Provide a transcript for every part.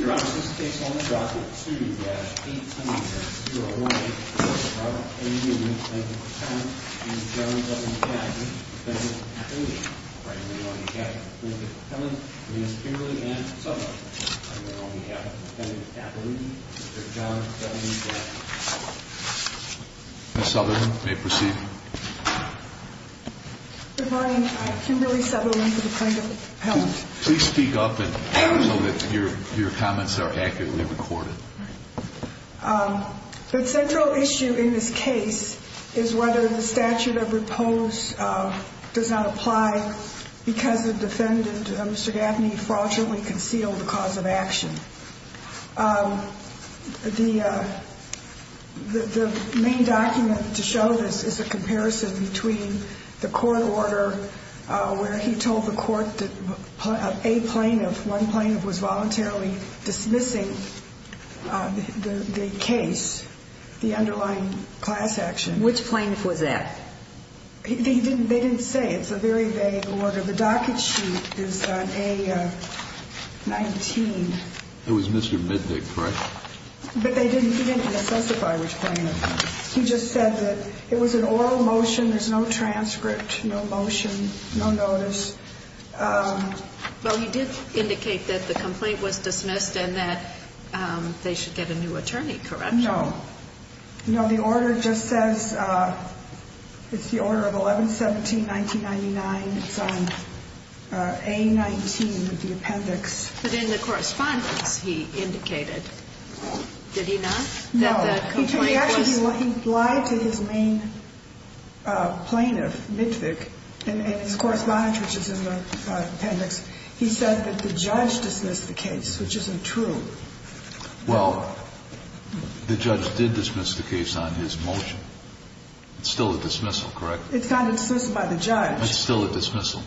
Your Honor, this case is on the docket 2-810-018. Mr. Robert A. Neuman v. Plaintiff Appellant and Mr. John W. Gaffney v. Defendant Appellant. I'm here on behalf of the Plaintiff Appellant, Ms. Kimberly and Mr. Southerland. I'm here on behalf of the Defendant Appellant, Mr. John W. Gaffney. Ms. Southerland, you may proceed. Good morning. I'm Kimberly Southerland with the Plaintiff Appellant. Please speak up so that your comments are accurately recorded. The central issue in this case is whether the statute of repose does not apply because the defendant, Mr. Gaffney, fraudulently concealed the cause of action. The main document to show this is a comparison between the court order where he told the court that a plaintiff, one plaintiff, was voluntarily dismissing the case, the underlying class action. Which plaintiff was that? They didn't say. It's a very vague order. The docket sheet is on A-19. It was Mr. Midnick, correct? But they didn't specify which plaintiff. He just said that it was an oral motion. There's no transcript, no motion, no notice. Well, he did indicate that the complaint was dismissed and that they should get a new attorney, correct? No. No, the order just says it's the order of 11-17-1999. It's on A-19 with the appendix. But in the correspondence, he indicated, did he not? No. He lied to his main plaintiff, Midnick, in his correspondence, which is in the appendix. He said that the judge dismissed the case, which isn't true. Well, the judge did dismiss the case on his motion. It's still a dismissal, correct? It's not dismissed by the judge. It's still a dismissal.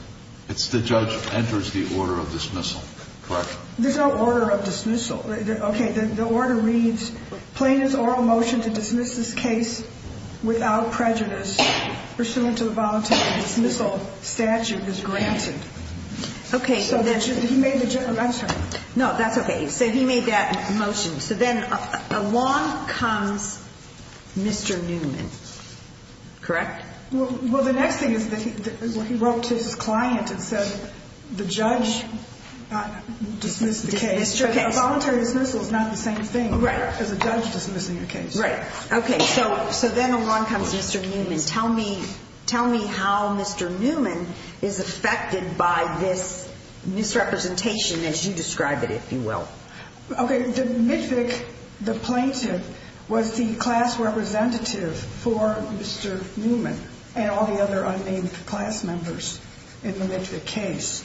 It's the judge enters the order of dismissal, correct? There's no order of dismissal. Okay. The order reads, plaintiff's oral motion to dismiss this case without prejudice, pursuant to the voluntary dismissal statute, is granted. Okay. So he made the motion. No, that's okay. He said he made that motion. So then along comes Mr. Newman, correct? Well, the next thing is that he wrote to his client and said the judge dismissed the case. A voluntary dismissal is not the same thing as a judge dismissing a case. Right. Okay. So then along comes Mr. Newman. Tell me how Mr. Newman is affected by this misrepresentation, as you describe it, if you will. Okay. The midvick, the plaintiff, was the class representative for Mr. Newman and all the other unnamed class members in the midvick case.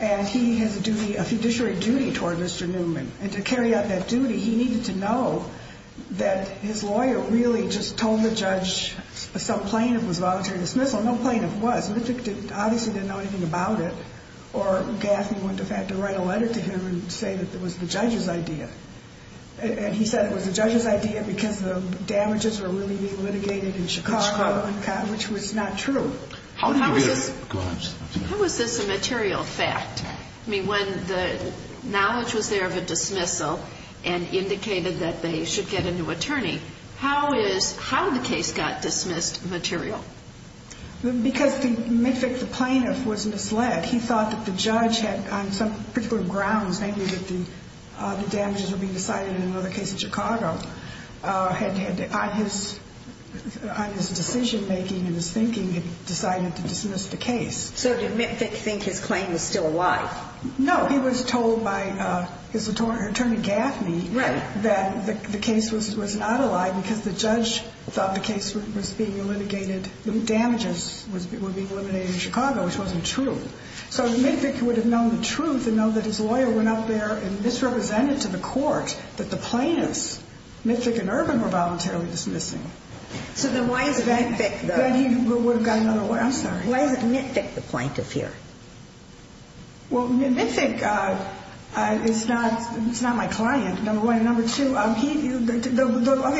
And he has a duty, a fiduciary duty toward Mr. Newman. And to carry out that duty, he needed to know that his lawyer really just told the judge some plaintiff was voluntary dismissal. No plaintiff was. Midvick obviously didn't know anything about it. Or Gaffney went to fact to write a letter to him and say that it was the judge's idea. And he said it was the judge's idea because the damages were really being litigated in Chicago, which was not true. How was this a material fact? I mean, when the knowledge was there of a dismissal and indicated that they should get a new attorney, how is, how the case got dismissed material? Because the midvick, the plaintiff, was misled. He thought that the judge had, on some particular grounds, maybe that the damages were being decided in another case in Chicago, had on his decision-making and his thinking decided to dismiss the case. So did midvick think his claim was still a lie? No. He was told by his attorney Gaffney that the case was not a lie because the judge thought the case was being litigated, the damages were being litigated in Chicago, which wasn't true. So midvick would have known the truth and know that his lawyer went out there and misrepresented to the court that the plaintiffs, midvick and Irvin, were voluntarily dismissing. So then why is it midvick, though? Then he would have got another lawyer. I'm sorry. Why is it midvick, the plaintiff, here? Well, midvick is not my client, number one. And number two, okay,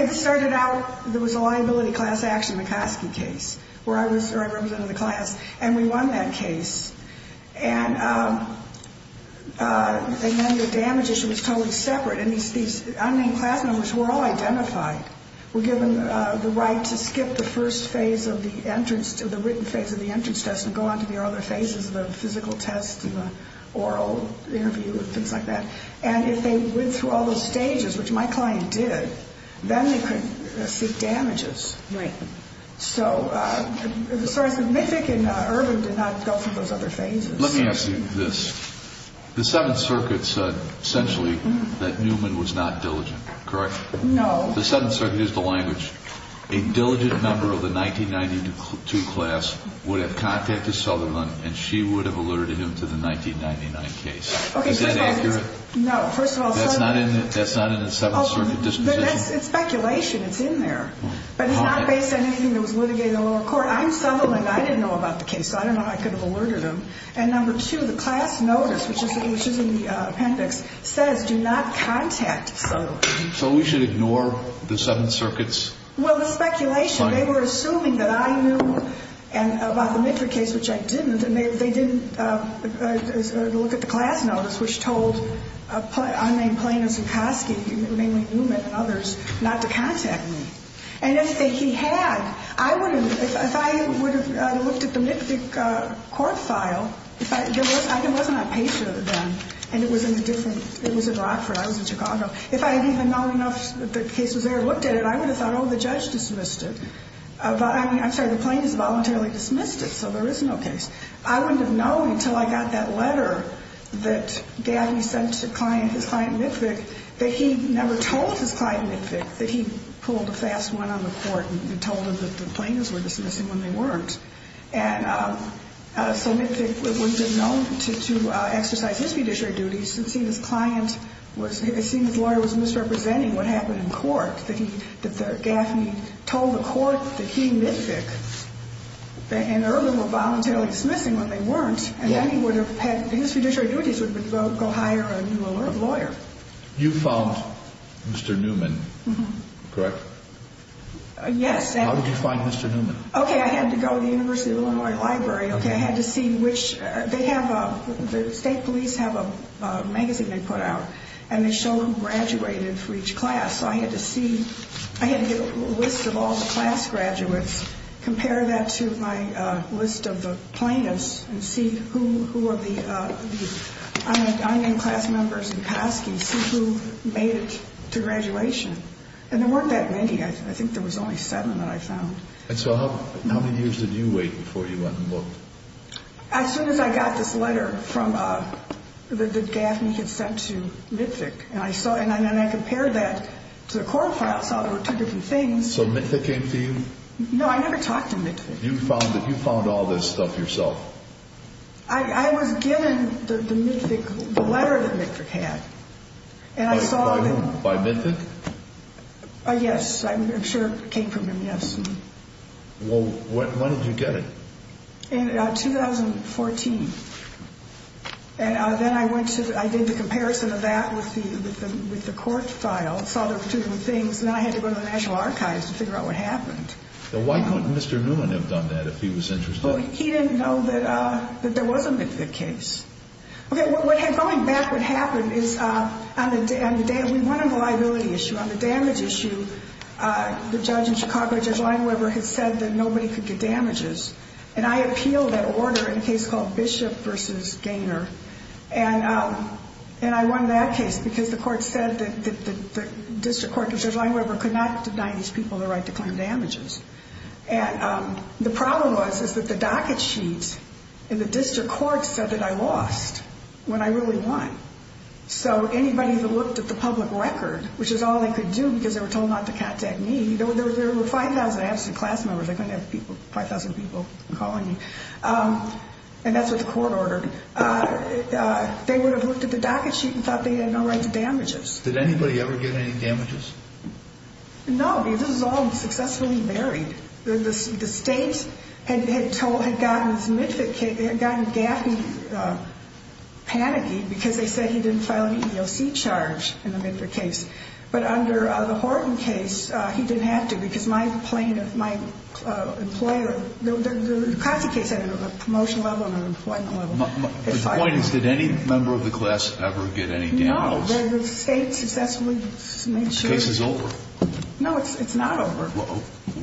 this started out, there was a liability class action McCoskey case where I represented the class, and we won that case. And then the damage issue was totally separate, and these unnamed class members were all identified, were given the right to skip the first phase of the entrance, the written phase of the entrance test and go on to the other phases, the physical test and the oral interview and things like that. And if they went through all those stages, which my client did, then they could seek damages. Right. So, sorry, midvick and Irvin did not go through those other phases. Let me ask you this. The Seventh Circuit said essentially that Newman was not diligent, correct? No. The Seventh Circuit used the language, a diligent member of the 1992 class would have contacted Southerland and she would have alerted him to the 1999 case. Is that accurate? No. First of all, that's not in the Seventh Circuit disposition. It's speculation. It's in there. But it's not based on anything that was litigated in the lower court. I'm Southerland. I didn't know about the case, so I don't know how I could have alerted him. And number two, the class notice, which is in the appendix, says do not contact Southerland. So we should ignore the Seventh Circuit's claim? Well, it's speculation. They were assuming that I knew about the midvick case, which I didn't, and they didn't look at the class notice, which told unnamed plaintiffs and Coskey, mainly Newman and others, not to contact me. And if he had, I would have, if I would have looked at the midvick court file, there wasn't a page for them, and it was in a different, it was in Rockford. I was in Chicago. If I had even known enough that the case was there and looked at it, I would have thought, oh, the judge dismissed it. I'm sorry, the plaintiffs voluntarily dismissed it, so there is no case. I wouldn't have known until I got that letter that Gaffney sent his client midvick that he never told his client midvick that he pulled a fast one on the court and told him that the plaintiffs were dismissing when they weren't. And so midvick would have been known to exercise his fiduciary duties, since he and his client was, his lawyer was misrepresenting what happened in court, that Gaffney told the court that he, midvick, and Irvin were voluntarily dismissing when they weren't, and then he would have had, his fiduciary duties would have been to go hire a new lawyer. You found Mr. Newman, correct? Yes. How did you find Mr. Newman? Okay, I had to go to the University of Illinois library. Okay. I had to see which, they have a, the state police have a magazine they put out, and they show who graduated for each class, so I had to see, I had to get a list of all the class graduates, compare that to my list of the plaintiffs, and see who were the, I named class members in Kosky, see who made it to graduation. And there weren't that many, I think there was only seven that I found. And so how many years did you wait before you went and looked? As soon as I got this letter from, that Gaffney had sent to midvick, and I saw, and then I compared that to the court file, saw there were two different things. So midvick came to you? No, I never talked to midvick. You found all this stuff yourself? I was given the midvick, the letter that midvick had. By whom, by midvick? Yes, I'm sure it came from him, yes. Well, when did you get it? In 2014. And then I went to, I did the comparison of that with the court file, saw there were two different things, and then I had to go to the National Archives to figure out what happened. Why couldn't Mr. Newman have done that if he was interested? He didn't know that there was a midvick case. Okay, going back, what happened is, on the liability issue, on the damage issue, the judge in Chicago, Judge Lineweber, had said that nobody could get damages. And I appealed that order in a case called Bishop v. Gaynor, and I won that case because the court said that the district court, Judge Lineweber, could not deny these people the right to claim damages. And the problem was, is that the docket sheet in the district court said that I lost, when I really won. So anybody that looked at the public record, which is all they could do because they were told not to contact me, there were 5,000 absent class members, I couldn't have 5,000 people calling me. And that's what the court ordered. They would have looked at the docket sheet and thought they had no right to damages. Did anybody ever get any damages? No, because this was all successfully buried. The state had gotten Gaffney panicky because they said he didn't file an EEOC charge in the midvick case. But under the Horton case, he didn't have to because my employer, the Kasi case had a promotion level and an employment level. But the point is, did any member of the class ever get any damages? No, the state successfully made sure. The case is over. No, it's not over.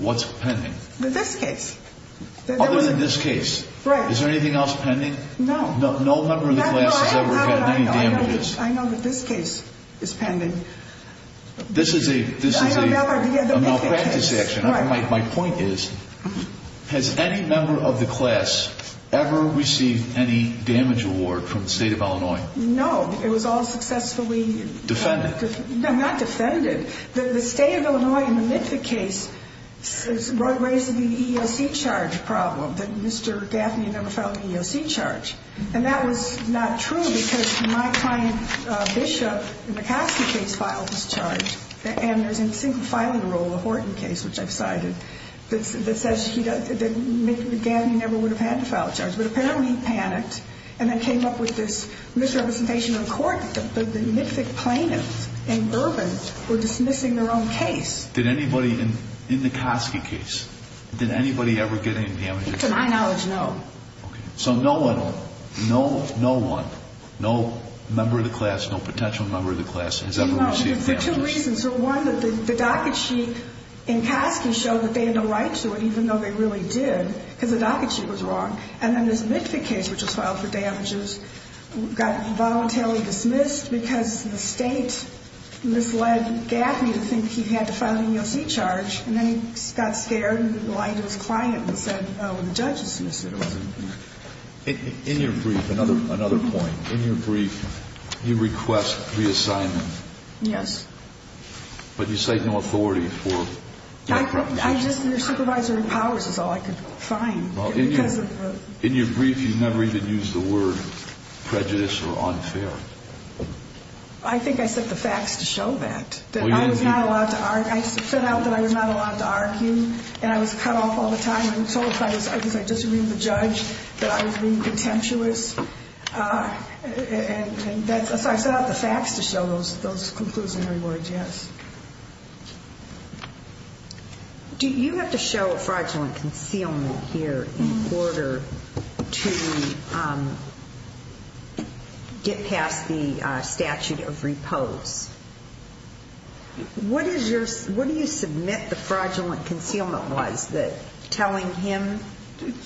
What's pending? This case. Other than this case? Right. Is there anything else pending? No. No member of the class has ever gotten any damages? I know that this case is pending. This is a malpractice action. My point is, has any member of the class ever received any damage award from the state of Illinois? No, it was all successfully defended. No, not defended. The state of Illinois in the midvick case raised the EEOC charge problem that Mr. Gaffney never filed an EEOC charge. And that was not true because my client, Bishop, in the Kasi case filed this charge. And there's a single filing rule in the Horton case, which I've cited, that says that Gaffney never would have had to file a charge. But apparently he panicked and then came up with this misrepresentation in court that the midvick plaintiffs in Bourbon were dismissing their own case. Did anybody in the Kasi case, did anybody ever get any damages? To my knowledge, no. Okay, so no one, no one, no member of the class, no potential member of the class has ever received damages. No, for two reasons. One, the docket sheet in Kasi showed that they had no right to it, even though they really did because the docket sheet was wrong. And then this midvick case, which was filed for damages, got voluntarily dismissed because the state misled Gaffney to think he had to file an EEOC charge. And then he got scared and lied to his client and said, oh, the judge has dismissed it. In your brief, another point, in your brief, you request reassignment. Yes. But you cite no authority for your proposition. I just, your supervisory powers is all I could find. In your brief, you never even used the word prejudice or unfair. I think I set the facts to show that, that I was not allowed to argue, and I was cut off all the time. I was told because I disagreed with the judge that I was being contentious. And so I set out the facts to show those conclusionary words, yes. Do you have to show a fraudulent concealment here in order to get past the statute of repose? What is your, what do you submit the fraudulent concealment was, that telling him?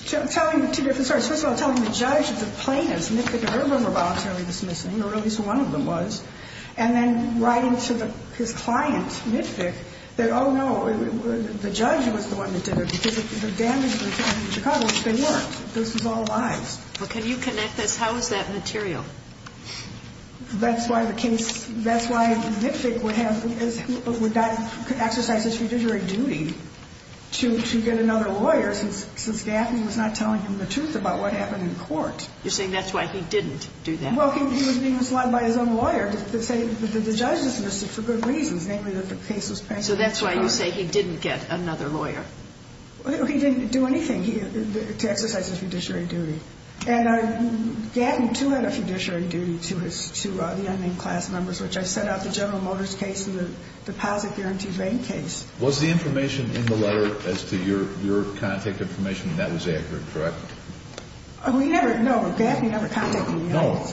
Telling, sorry, first of all, telling the judge that the plaintiffs, midvick and Irvin, were voluntarily dismissed, or at least one of them was. And then writing to his client, midvick, that, oh, no, the judge was the one that did it because the damages in Chicago, they weren't. This was all lies. Well, can you connect this? How is that material? That's why the case, that's why midvick would have, would not exercise his fiduciary duty to get another lawyer since Gatton was not telling him the truth about what happened in court. You're saying that's why he didn't do that? Well, he was being misled by his own lawyer to say that the judge dismissed him for good reasons, namely that the case was passed. So that's why you say he didn't get another lawyer? He didn't do anything to exercise his fiduciary duty. And Gatton, too, had a fiduciary duty to the unnamed class members, which I set out the General Motors case and the deposit guarantee vein case. Was the information in the letter as to your contact information? That was accurate, correct? We never, no, Gaffney never contacted me. No,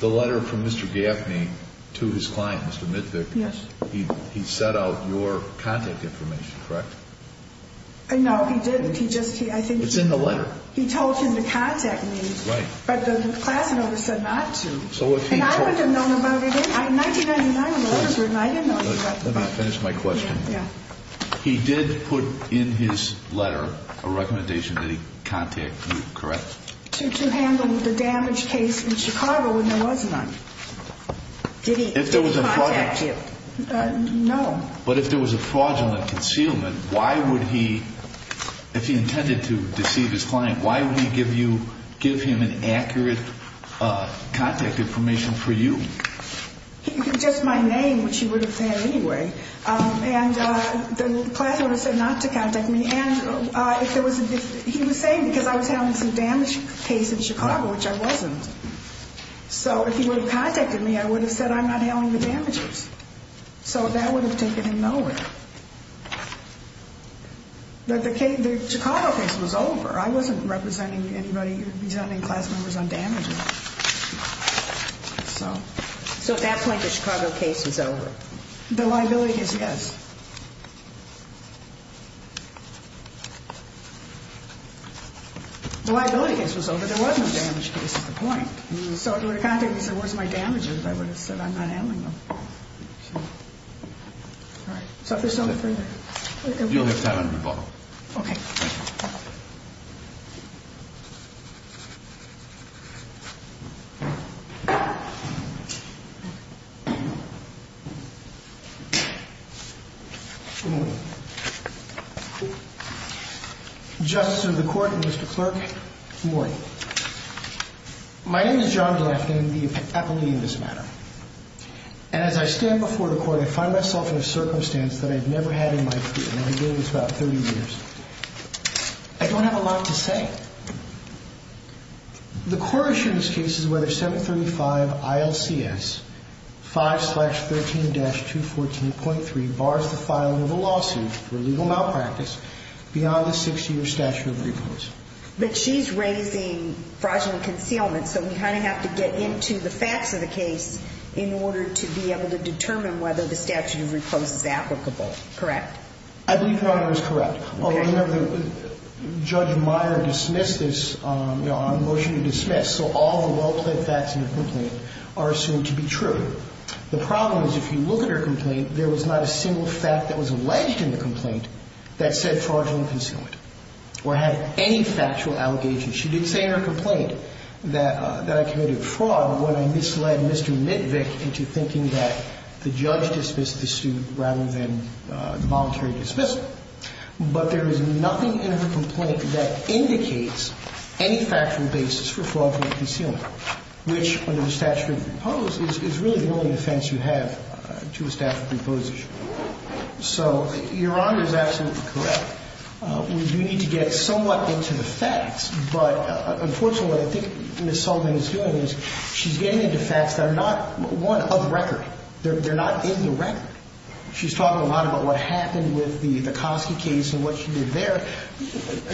the letter from Mr. Gaffney to his client, Mr. Midvick, he set out your contact information, correct? No, he didn't. He just, I think. It's in the letter. He told him to contact me. Right. But the class members said not to. And I wouldn't have known about it either. In 1999, when the orders were in, I didn't know about the letter. Let me finish my question. Yeah. He did put in his letter a recommendation that he contact you, correct? To handle the damage case in Chicago when there was none. Did he contact you? No. But if there was a fraudulent concealment, why would he, if he intended to deceive his client, why would he give you, give him an accurate contact information for you? Just my name, which he would have said anyway. And the class members said not to contact me. And if there was, he was saying because I was handling some damage case in Chicago, which I wasn't. So if he would have contacted me, I would have said I'm not handling the damages. So that would have taken him nowhere. The Chicago case was over. I wasn't representing anybody, representing class members on damage. So at that point, the Chicago case was over. The liability case, yes. The liability case was over. There was no damage case at the point. So if he would have contacted me and said where's my damages, I would have said I'm not handling them. All right. So if there's no further. You'll have time to rebuttal. Okay. Thank you. Justice of the Court and Mr. Clerk. Good morning. My name is John Glafken, the appellee in this matter. And as I stand before the Court, I find myself in a circumstance that I've never had in my career. And I've been doing this about 30 years. I don't have a lot to say. The court assures cases whether 735 ILCS 5-13-214.3 bars the filing of a lawsuit for illegal malpractice beyond the six-year statute of repose. But she's raising fraudulent concealment. So we kind of have to get into the facts of the case in order to be able to determine whether the statute of repose is applicable. Correct. I believe the argument is correct. Although, remember, Judge Meyer dismissed this on a motion to dismiss. So all the well-plaid facts in the complaint are assumed to be true. The problem is if you look at her complaint, there was not a single fact that was alleged in the complaint that said fraudulent concealment. Or had any factual allegations. She did say in her complaint that I committed fraud when I misled Mr. Mitvick into thinking that the judge dismissed the suit rather than the voluntary dismissal. But there is nothing in her complaint that indicates any factual basis for fraudulent concealment, which, under the statute of repose, is really the only defense you have to a statute of repose issue. So Your Honor is absolutely correct. We do need to get somewhat into the facts. But unfortunately, what I think Ms. Sullivan is doing is she's getting into facts that are not, one, of record. They're not in the record. She's talking a lot about what happened with the Kosky case and what she did there.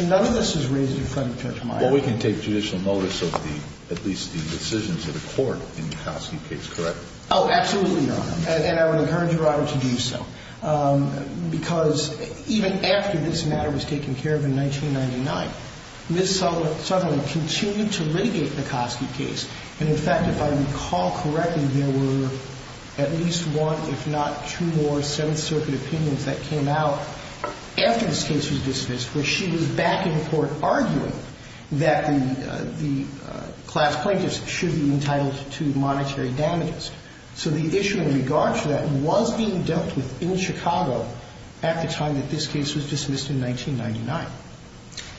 None of this is raised in front of Judge Meyer. Well, we can take judicial notice of the at least the decisions of the court in the Kosky case, correct? Oh, absolutely, Your Honor. And I would encourage Your Honor to do so. Because even after this matter was taken care of in 1999, Ms. Sullivan continued to litigate the Kosky case. And, in fact, if I recall correctly, there were at least one, if not two more, Seventh Circuit opinions that came out after this case was dismissed where she was back in court arguing that the class plaintiffs should be entitled to monetary damages. So the issue in regard to that was being dealt with in Chicago at the time that this case was dismissed in 1999.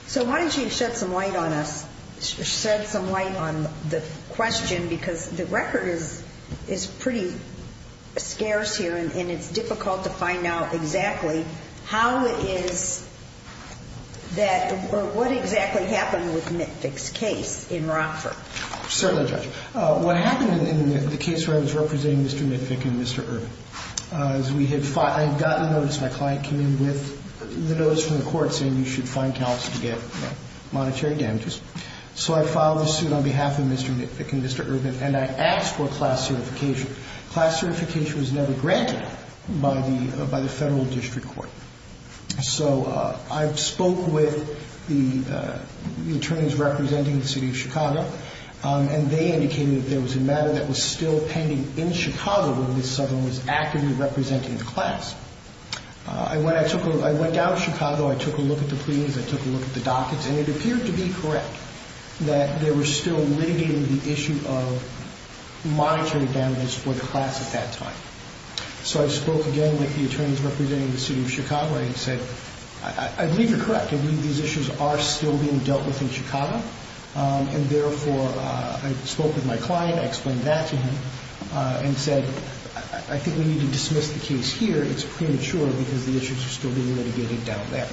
So why don't you shed some light on us, shed some light on the question? Because the record is pretty scarce here, and it's difficult to find out exactly how is that or what exactly happened with Mitvick's case in Rockford. Certainly, Judge. What happened in the case where I was representing Mr. Mitvick and Mr. Urban is I had gotten a notice. My client came in with the notice from the court saying you should find counsel to get monetary damages. So I filed a suit on behalf of Mr. Mitvick and Mr. Urban, and I asked for class certification. Class certification was never granted by the Federal District Court. So I spoke with the attorneys representing the city of Chicago, and they indicated that there was a matter that was still pending in Chicago where Ms. Southern was actively representing the class. And when I went down to Chicago, I took a look at the pleadings, I took a look at the dockets, and it appeared to be correct that they were still litigating the issue of monetary damages for the class at that time. So I spoke again with the attorneys representing the city of Chicago, and he said, I believe you're correct. I believe these issues are still being dealt with in Chicago. And therefore, I spoke with my client, I explained that to him, and said, I think we need to dismiss the case here. It's premature because the issues are still being litigated down there.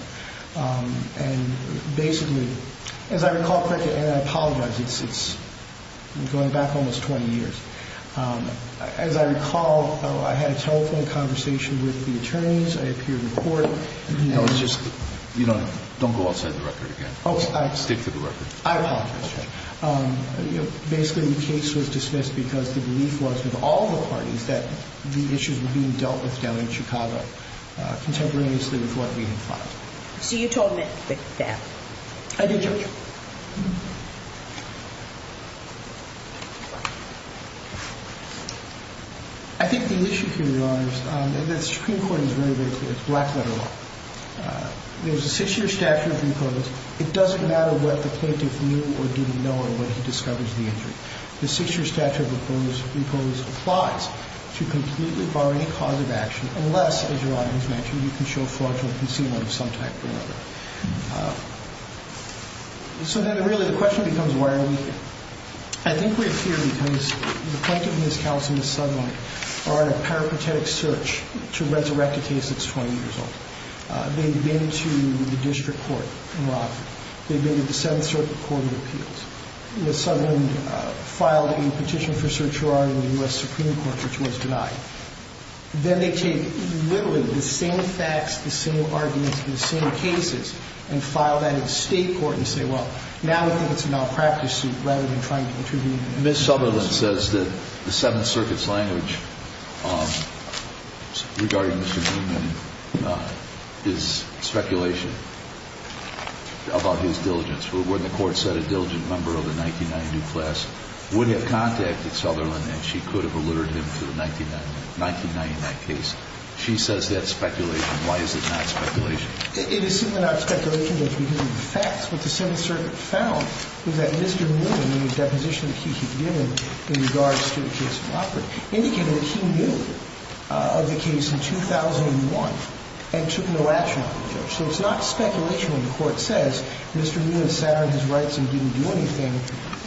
And basically, as I recall, and I apologize, it's going back almost 20 years. As I recall, I had a telephone conversation with the attorneys, I appeared in court. No, it's just, you know, don't go outside the record again. Okay. Stick to the record. I apologize, Judge. Basically, the case was dismissed because the belief was with all the parties that the issues were being dealt with down in Chicago contemporaneously with what we had filed. So you told them that? I did, Judge. I think the issue here, Your Honors, and the Supreme Court is very, very clear. It's black-letter law. There's a six-year statute imposed. It doesn't matter what the plaintiff knew or didn't know in what he discovers the injury. The six-year statute imposed applies to completely bar any cause of action unless, as Your Honor has mentioned, you can show fraudulent concealment of some type or another. So then really the question becomes, why are we here? I think we're here because the plaintiff, Ms. Kallis and Ms. Sutherland, are on a peripatetic search to resurrect a case that's 20 years old. They've been to the district court in Rockford. They've been to the Seventh Circuit Court of Appeals. Ms. Sutherland filed a petition for search warrant in the U.S. Supreme Court, which was denied. Then they take literally the same facts, the same arguments, the same cases, and file that in the state court and say, well, now we think it's a malpractice suit rather than trying to intervene. Ms. Sutherland says that the Seventh Circuit's language regarding Mr. Newman is speculation about his diligence. When the court said a diligent member of the 1990 new class would have contacted Sutherland and she could have allured him to the 1990 case, she says that's speculation. Why is it not speculation? It is simply not speculation. It's because of the facts. What the Seventh Circuit found was that Mr. Newman, in the deposition that he had given in regards to the case in Rockford, indicated that he knew of the case in 2001 and took no action on the judge. So it's not speculation when the court says Mr. Newman sat on his rights and didn't do anything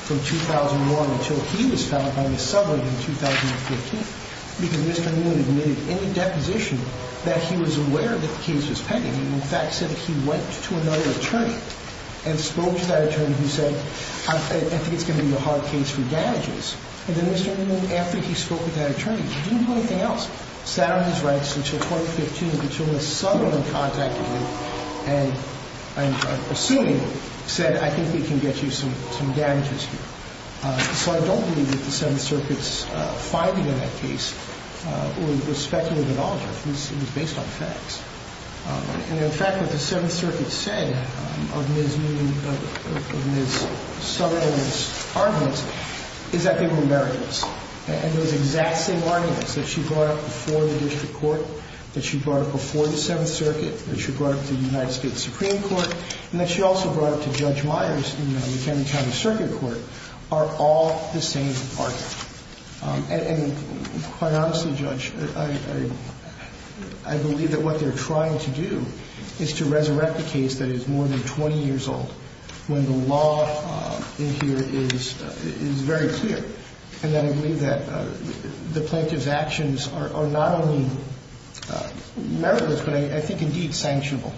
from 2001 until he was found by Ms. Sutherland in 2015. Because Mr. Newman admitted in the deposition that he was aware that the case was pending and, in fact, said he went to another attorney and spoke to that attorney who said, I think it's going to be a hard case for damages. And then Mr. Newman, after he spoke with that attorney, he didn't do anything else, sat on his rights until 2015 until Ms. Sutherland contacted him and, I'm assuming, said, I think we can get you some damages here. So I don't believe that the Seventh Circuit's finding in that case was speculative at all. It was based on facts. And, in fact, what the Seventh Circuit said of Ms. Newman, of Ms. Sutherland's arguments, is that they were merits. And those exact same arguments that she brought up before the district court, that she brought up before the Seventh Circuit, that she brought up to the United States Supreme Court, and that she also brought up to Judge Myers in the McKinley County Circuit Court, are all the same argument. And, quite honestly, Judge, I believe that what they're trying to do is to resurrect a case that is more than 20 years old when the law in here is very clear. And then I believe that the plaintiff's actions are not only meritless, but I think, indeed, sanctionable.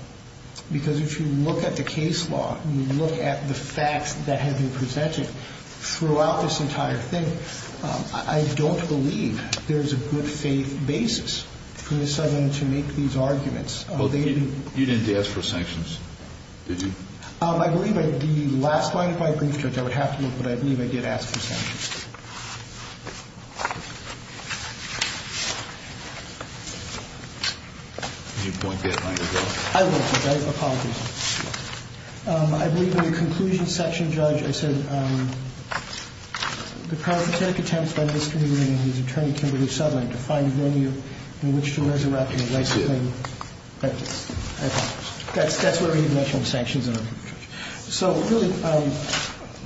Because if you look at the case law, you look at the facts that have been presented throughout this entire thing, I don't believe there's a good faith basis for Ms. Sutherland to make these arguments. Well, you didn't ask for sanctions, did you? I believe in the last line of my brief, Judge, I would have to look, but I believe I did ask for sanctions. You won't get my rebuttal? I won't, Judge. I apologize. I believe in the conclusion section, Judge, I said, the counterfeit attempts by Mr. Meehan and his attorney, Kimberly Sutherland, to find a venue in which to resurrect a life-saving practice. I apologize. So, really,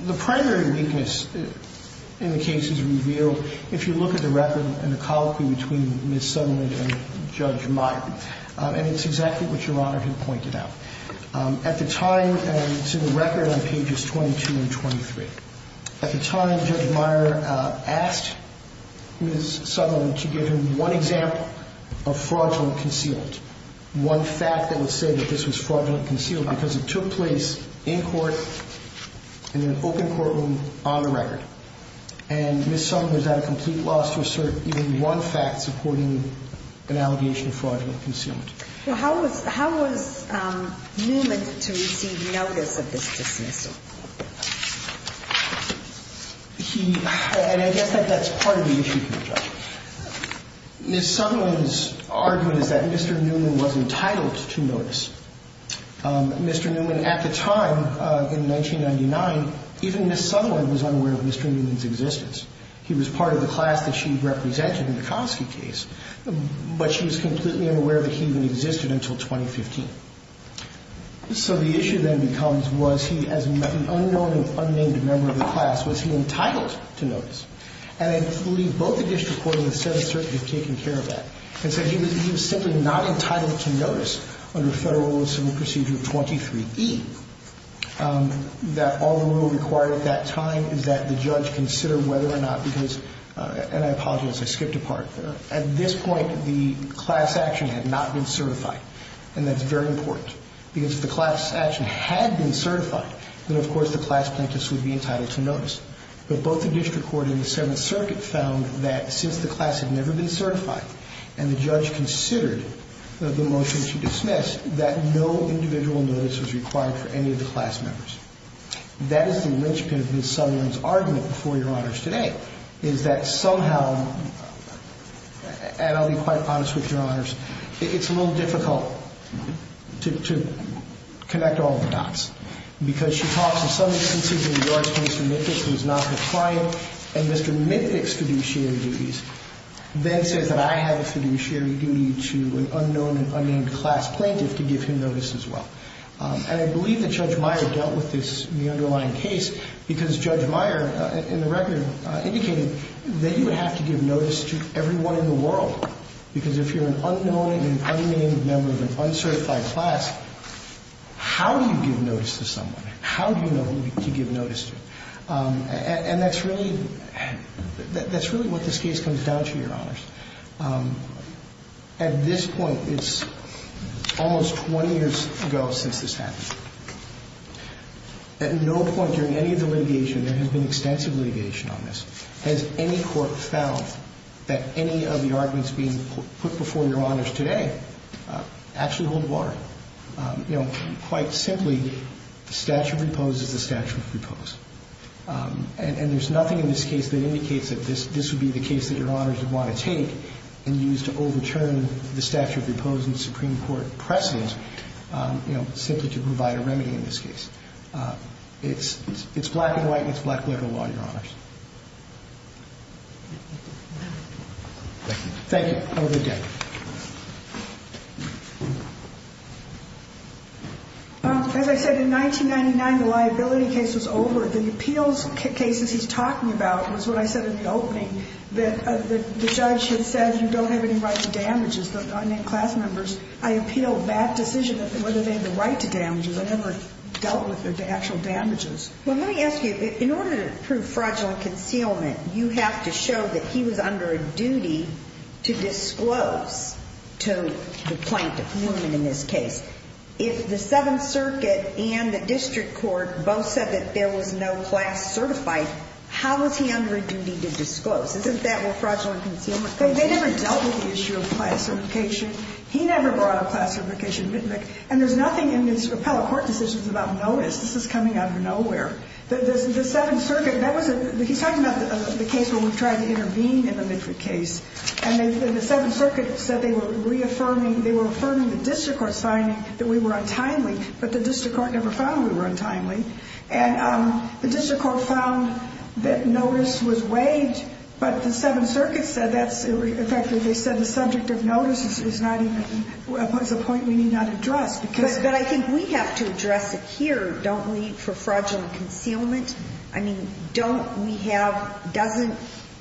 the primary weakness in the case is revealed if you look at the record and the colloquy between Ms. Sutherland and Judge Meyer. And it's exactly what Your Honor had pointed out. At the time, and it's in the record on pages 22 and 23, at the time, Judge Meyer asked Ms. Sutherland to give him one example of fraudulent concealment, one fact that would say that this was fraudulent concealment, because it took place in court, in an open courtroom, on the record. And Ms. Sutherland was at a complete loss to assert even one fact supporting an allegation of fraudulent concealment. Well, how was Newman to receive notice of this dismissal? He – and I guess that's part of the issue here, Judge. Ms. Sutherland's argument is that Mr. Newman was entitled to notice. Mr. Newman, at the time, in 1999, even Ms. Sutherland was unaware of Mr. Newman's existence. He was part of the class that she represented in the Kosky case, but she was completely unaware that he even existed until 2015. So the issue then becomes, was he, as an unknown and unnamed member of the class, was he entitled to notice? And I believe both the district court and the Seventh Circuit have taken care of that. And so he was simply not entitled to notice under Federal Law, Civil Procedure 23E, that all the rule required at that time is that the judge consider whether or not – because – and I apologize, I skipped a part there. At this point, the class action had not been certified, and that's very important. Because if the class action had been certified, then of course the class plaintiffs would be entitled to notice. But both the district court and the Seventh Circuit found that since the class had never been certified, and the judge considered the motion she dismissed, that no individual notice was required for any of the class members. That is the linchpin of Ms. Sutherland's argument before Your Honors today, is that somehow – and I'll be quite honest with Your Honors – it's a little difficult to connect all the dots. Because she talks, in some instances, in regards to Mr. Mitnick, who is not her client, and Mr. Mitnick's fiduciary duties, then says that I have a fiduciary duty to an unknown and unnamed class plaintiff to give him notice as well. And I believe that Judge Meyer dealt with this – the underlying case, because Judge Meyer, in the record, indicated that you have to give notice to everyone in the world. Because if you're an unknown and unnamed member of an uncertified class, how do you give notice to someone? How do you know who to give notice to? And that's really – that's really what this case comes down to, Your Honors. At this point, it's almost 20 years ago since this happened. At no point during any of the litigation – there has been extensive litigation on this – has any court found that any of the arguments being put before Your Honors today actually hold water. You know, quite simply, the statute of repose is the statute of repose. And there's nothing in this case that indicates that this would be the case that Your Honors would want to take and use to overturn the statute of repose and Supreme Court precedent, you know, simply to provide a remedy in this case. It's – it's black and white, and it's black liberal law, Your Honors. Thank you. Thank you. Have a good day. As I said, in 1999, the liability case was over. The appeals cases he's talking about was what I said in the opening, that the judge had said you don't have any right to damages, the unnamed class members. I appeal that decision of whether they had the right to damages. I never dealt with the actual damages. Well, let me ask you, in order to prove fraudulent concealment, you have to show that he was under a duty to disclose to the plaintiff, the woman in this case. If the Seventh Circuit and the district court both said that there was no class certified, how was he under a duty to disclose? Isn't that where fraudulent concealment comes in? They never dealt with the issue of class certification. He never brought up class certification. And there's nothing in these appellate court decisions about notice. This is coming out of nowhere. The Seventh Circuit – that was a – he's talking about the case where we tried to intervene in the Midford case. And the Seventh Circuit said they were reaffirming – they were affirming the district court's finding that we were untimely, but the district court never found we were untimely. And the district court found that notice was waived, but the Seventh Circuit said that's – that's a point we need not address because – But I think we have to address it here, don't we, for fraudulent concealment. I mean, don't we have – doesn't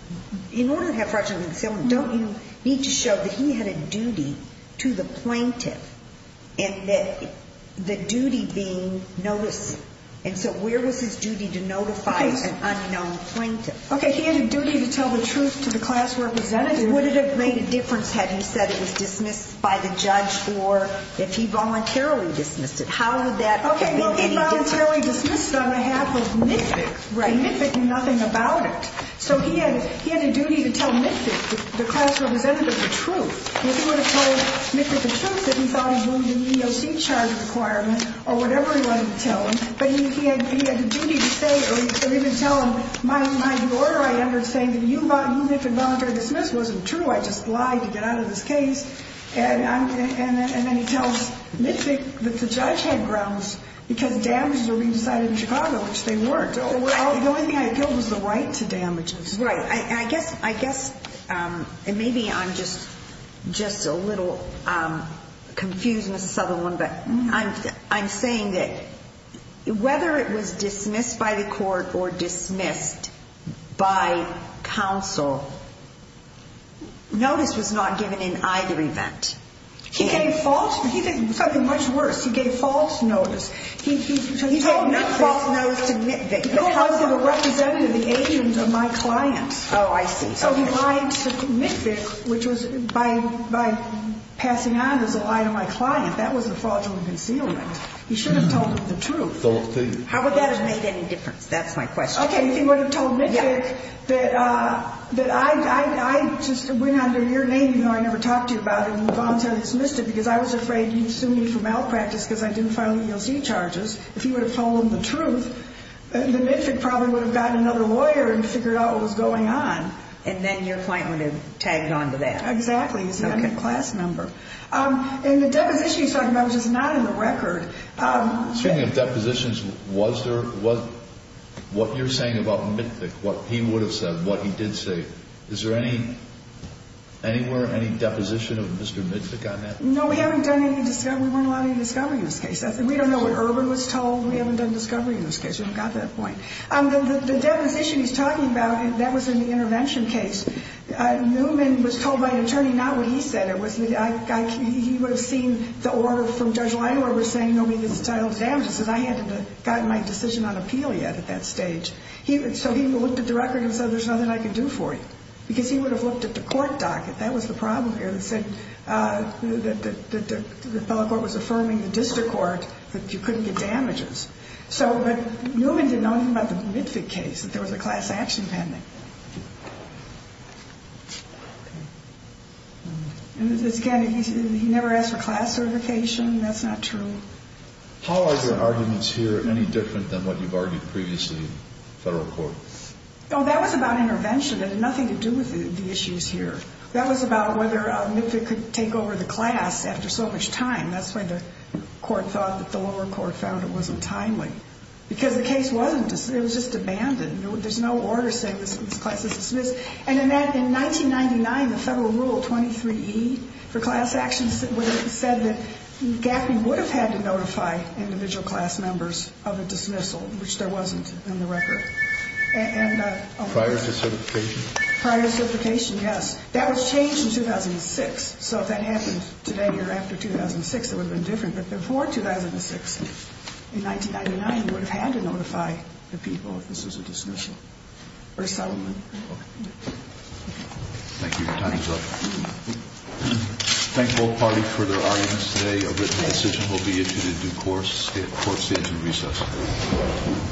– in order to have fraudulent concealment, don't you need to show that he had a duty to the plaintiff and that the duty being notice? And so where was his duty to notify an unknown plaintiff? Okay, he had a duty to tell the truth to the class representative. And would it have made a difference had he said it was dismissed by the judge or if he voluntarily dismissed it? How would that have been any different? Okay, well, he voluntarily dismissed it on behalf of Midford. Right. And Midford knew nothing about it. So he had a duty to tell Midford, the class representative, the truth. If he would have told Midford the truth, then he probably would have moved the EEOC charge requirement or whatever he wanted to tell him. But he had the duty to say or even tell him, And then he tells Midford that the judge had grounds because damages were being decided in Chicago, which they weren't. The only thing I appealed was the right to damages. Right. And I guess – and maybe I'm just a little confused, Ms. Sutherland, but I'm saying that whether it was dismissed by the court or dismissed by counsel, notice was not given in either event. He gave false – he gave something much worse. He gave false notice. He gave false notice to Midford because of the representative, the agent of my client. Oh, I see. So he lied to Midford, which was by passing on as a lie to my client. That was a fraudulent concealment. He should have told him the truth. How would that have made any difference? That's my question. Okay. If he would have told Midford that I just went under your name, even though I never talked to you about it, and moved on to dismiss it because I was afraid he'd sue me for malpractice because I didn't file EEOC charges. If he would have told him the truth, then Midford probably would have gotten another lawyer and figured out what was going on. And then your client would have tagged on to that. Exactly. He's got a class number. And the deposition he's talking about, which is not in the record. Speaking of depositions, was there – what you're saying about Midford, what he would have said, what he did say, is there any – anywhere, any deposition of Mr. Midford on that? No, we haven't done any – we weren't allowed any discovery in this case. We don't know what Urban was told. We haven't done discovery in this case. We haven't got that point. The deposition he's talking about, that was in the intervention case. Newman was told by an attorney not what he said. It was – he would have seen the order from Judge Leinoir saying nobody gets entitled to damages. He said, I hadn't gotten my decision on appeal yet at that stage. So he looked at the record and said, there's nothing I can do for you. Because he would have looked at the court docket. That was the problem here. It said that the appellate court was affirming the district court that you couldn't get damages. So – but Newman didn't know anything about the Midford case, that there was a class action pending. And again, he never asked for class certification. That's not true. How are the arguments here any different than what you've argued previously in federal court? Oh, that was about intervention. It had nothing to do with the issues here. That was about whether Midford could take over the class after so much time. That's why the court thought that the lower court found it wasn't timely. Because the case wasn't – it was just abandoned. There's no order saying this class is dismissed. And in 1999, the federal rule 23E for class action said that Gaffney would have had to notify individual class members of a dismissal, which there wasn't in the record. Prior to certification? Prior to certification, yes. That was changed in 2006. So if that happened today or after 2006, it would have been different. But before 2006, in 1999, you would have had to notify the people if this was a dismissal or settlement. Okay. Thank you. Your time is up. Thank both parties for their arguments today. A written decision will be issued in due course at court stage and recess.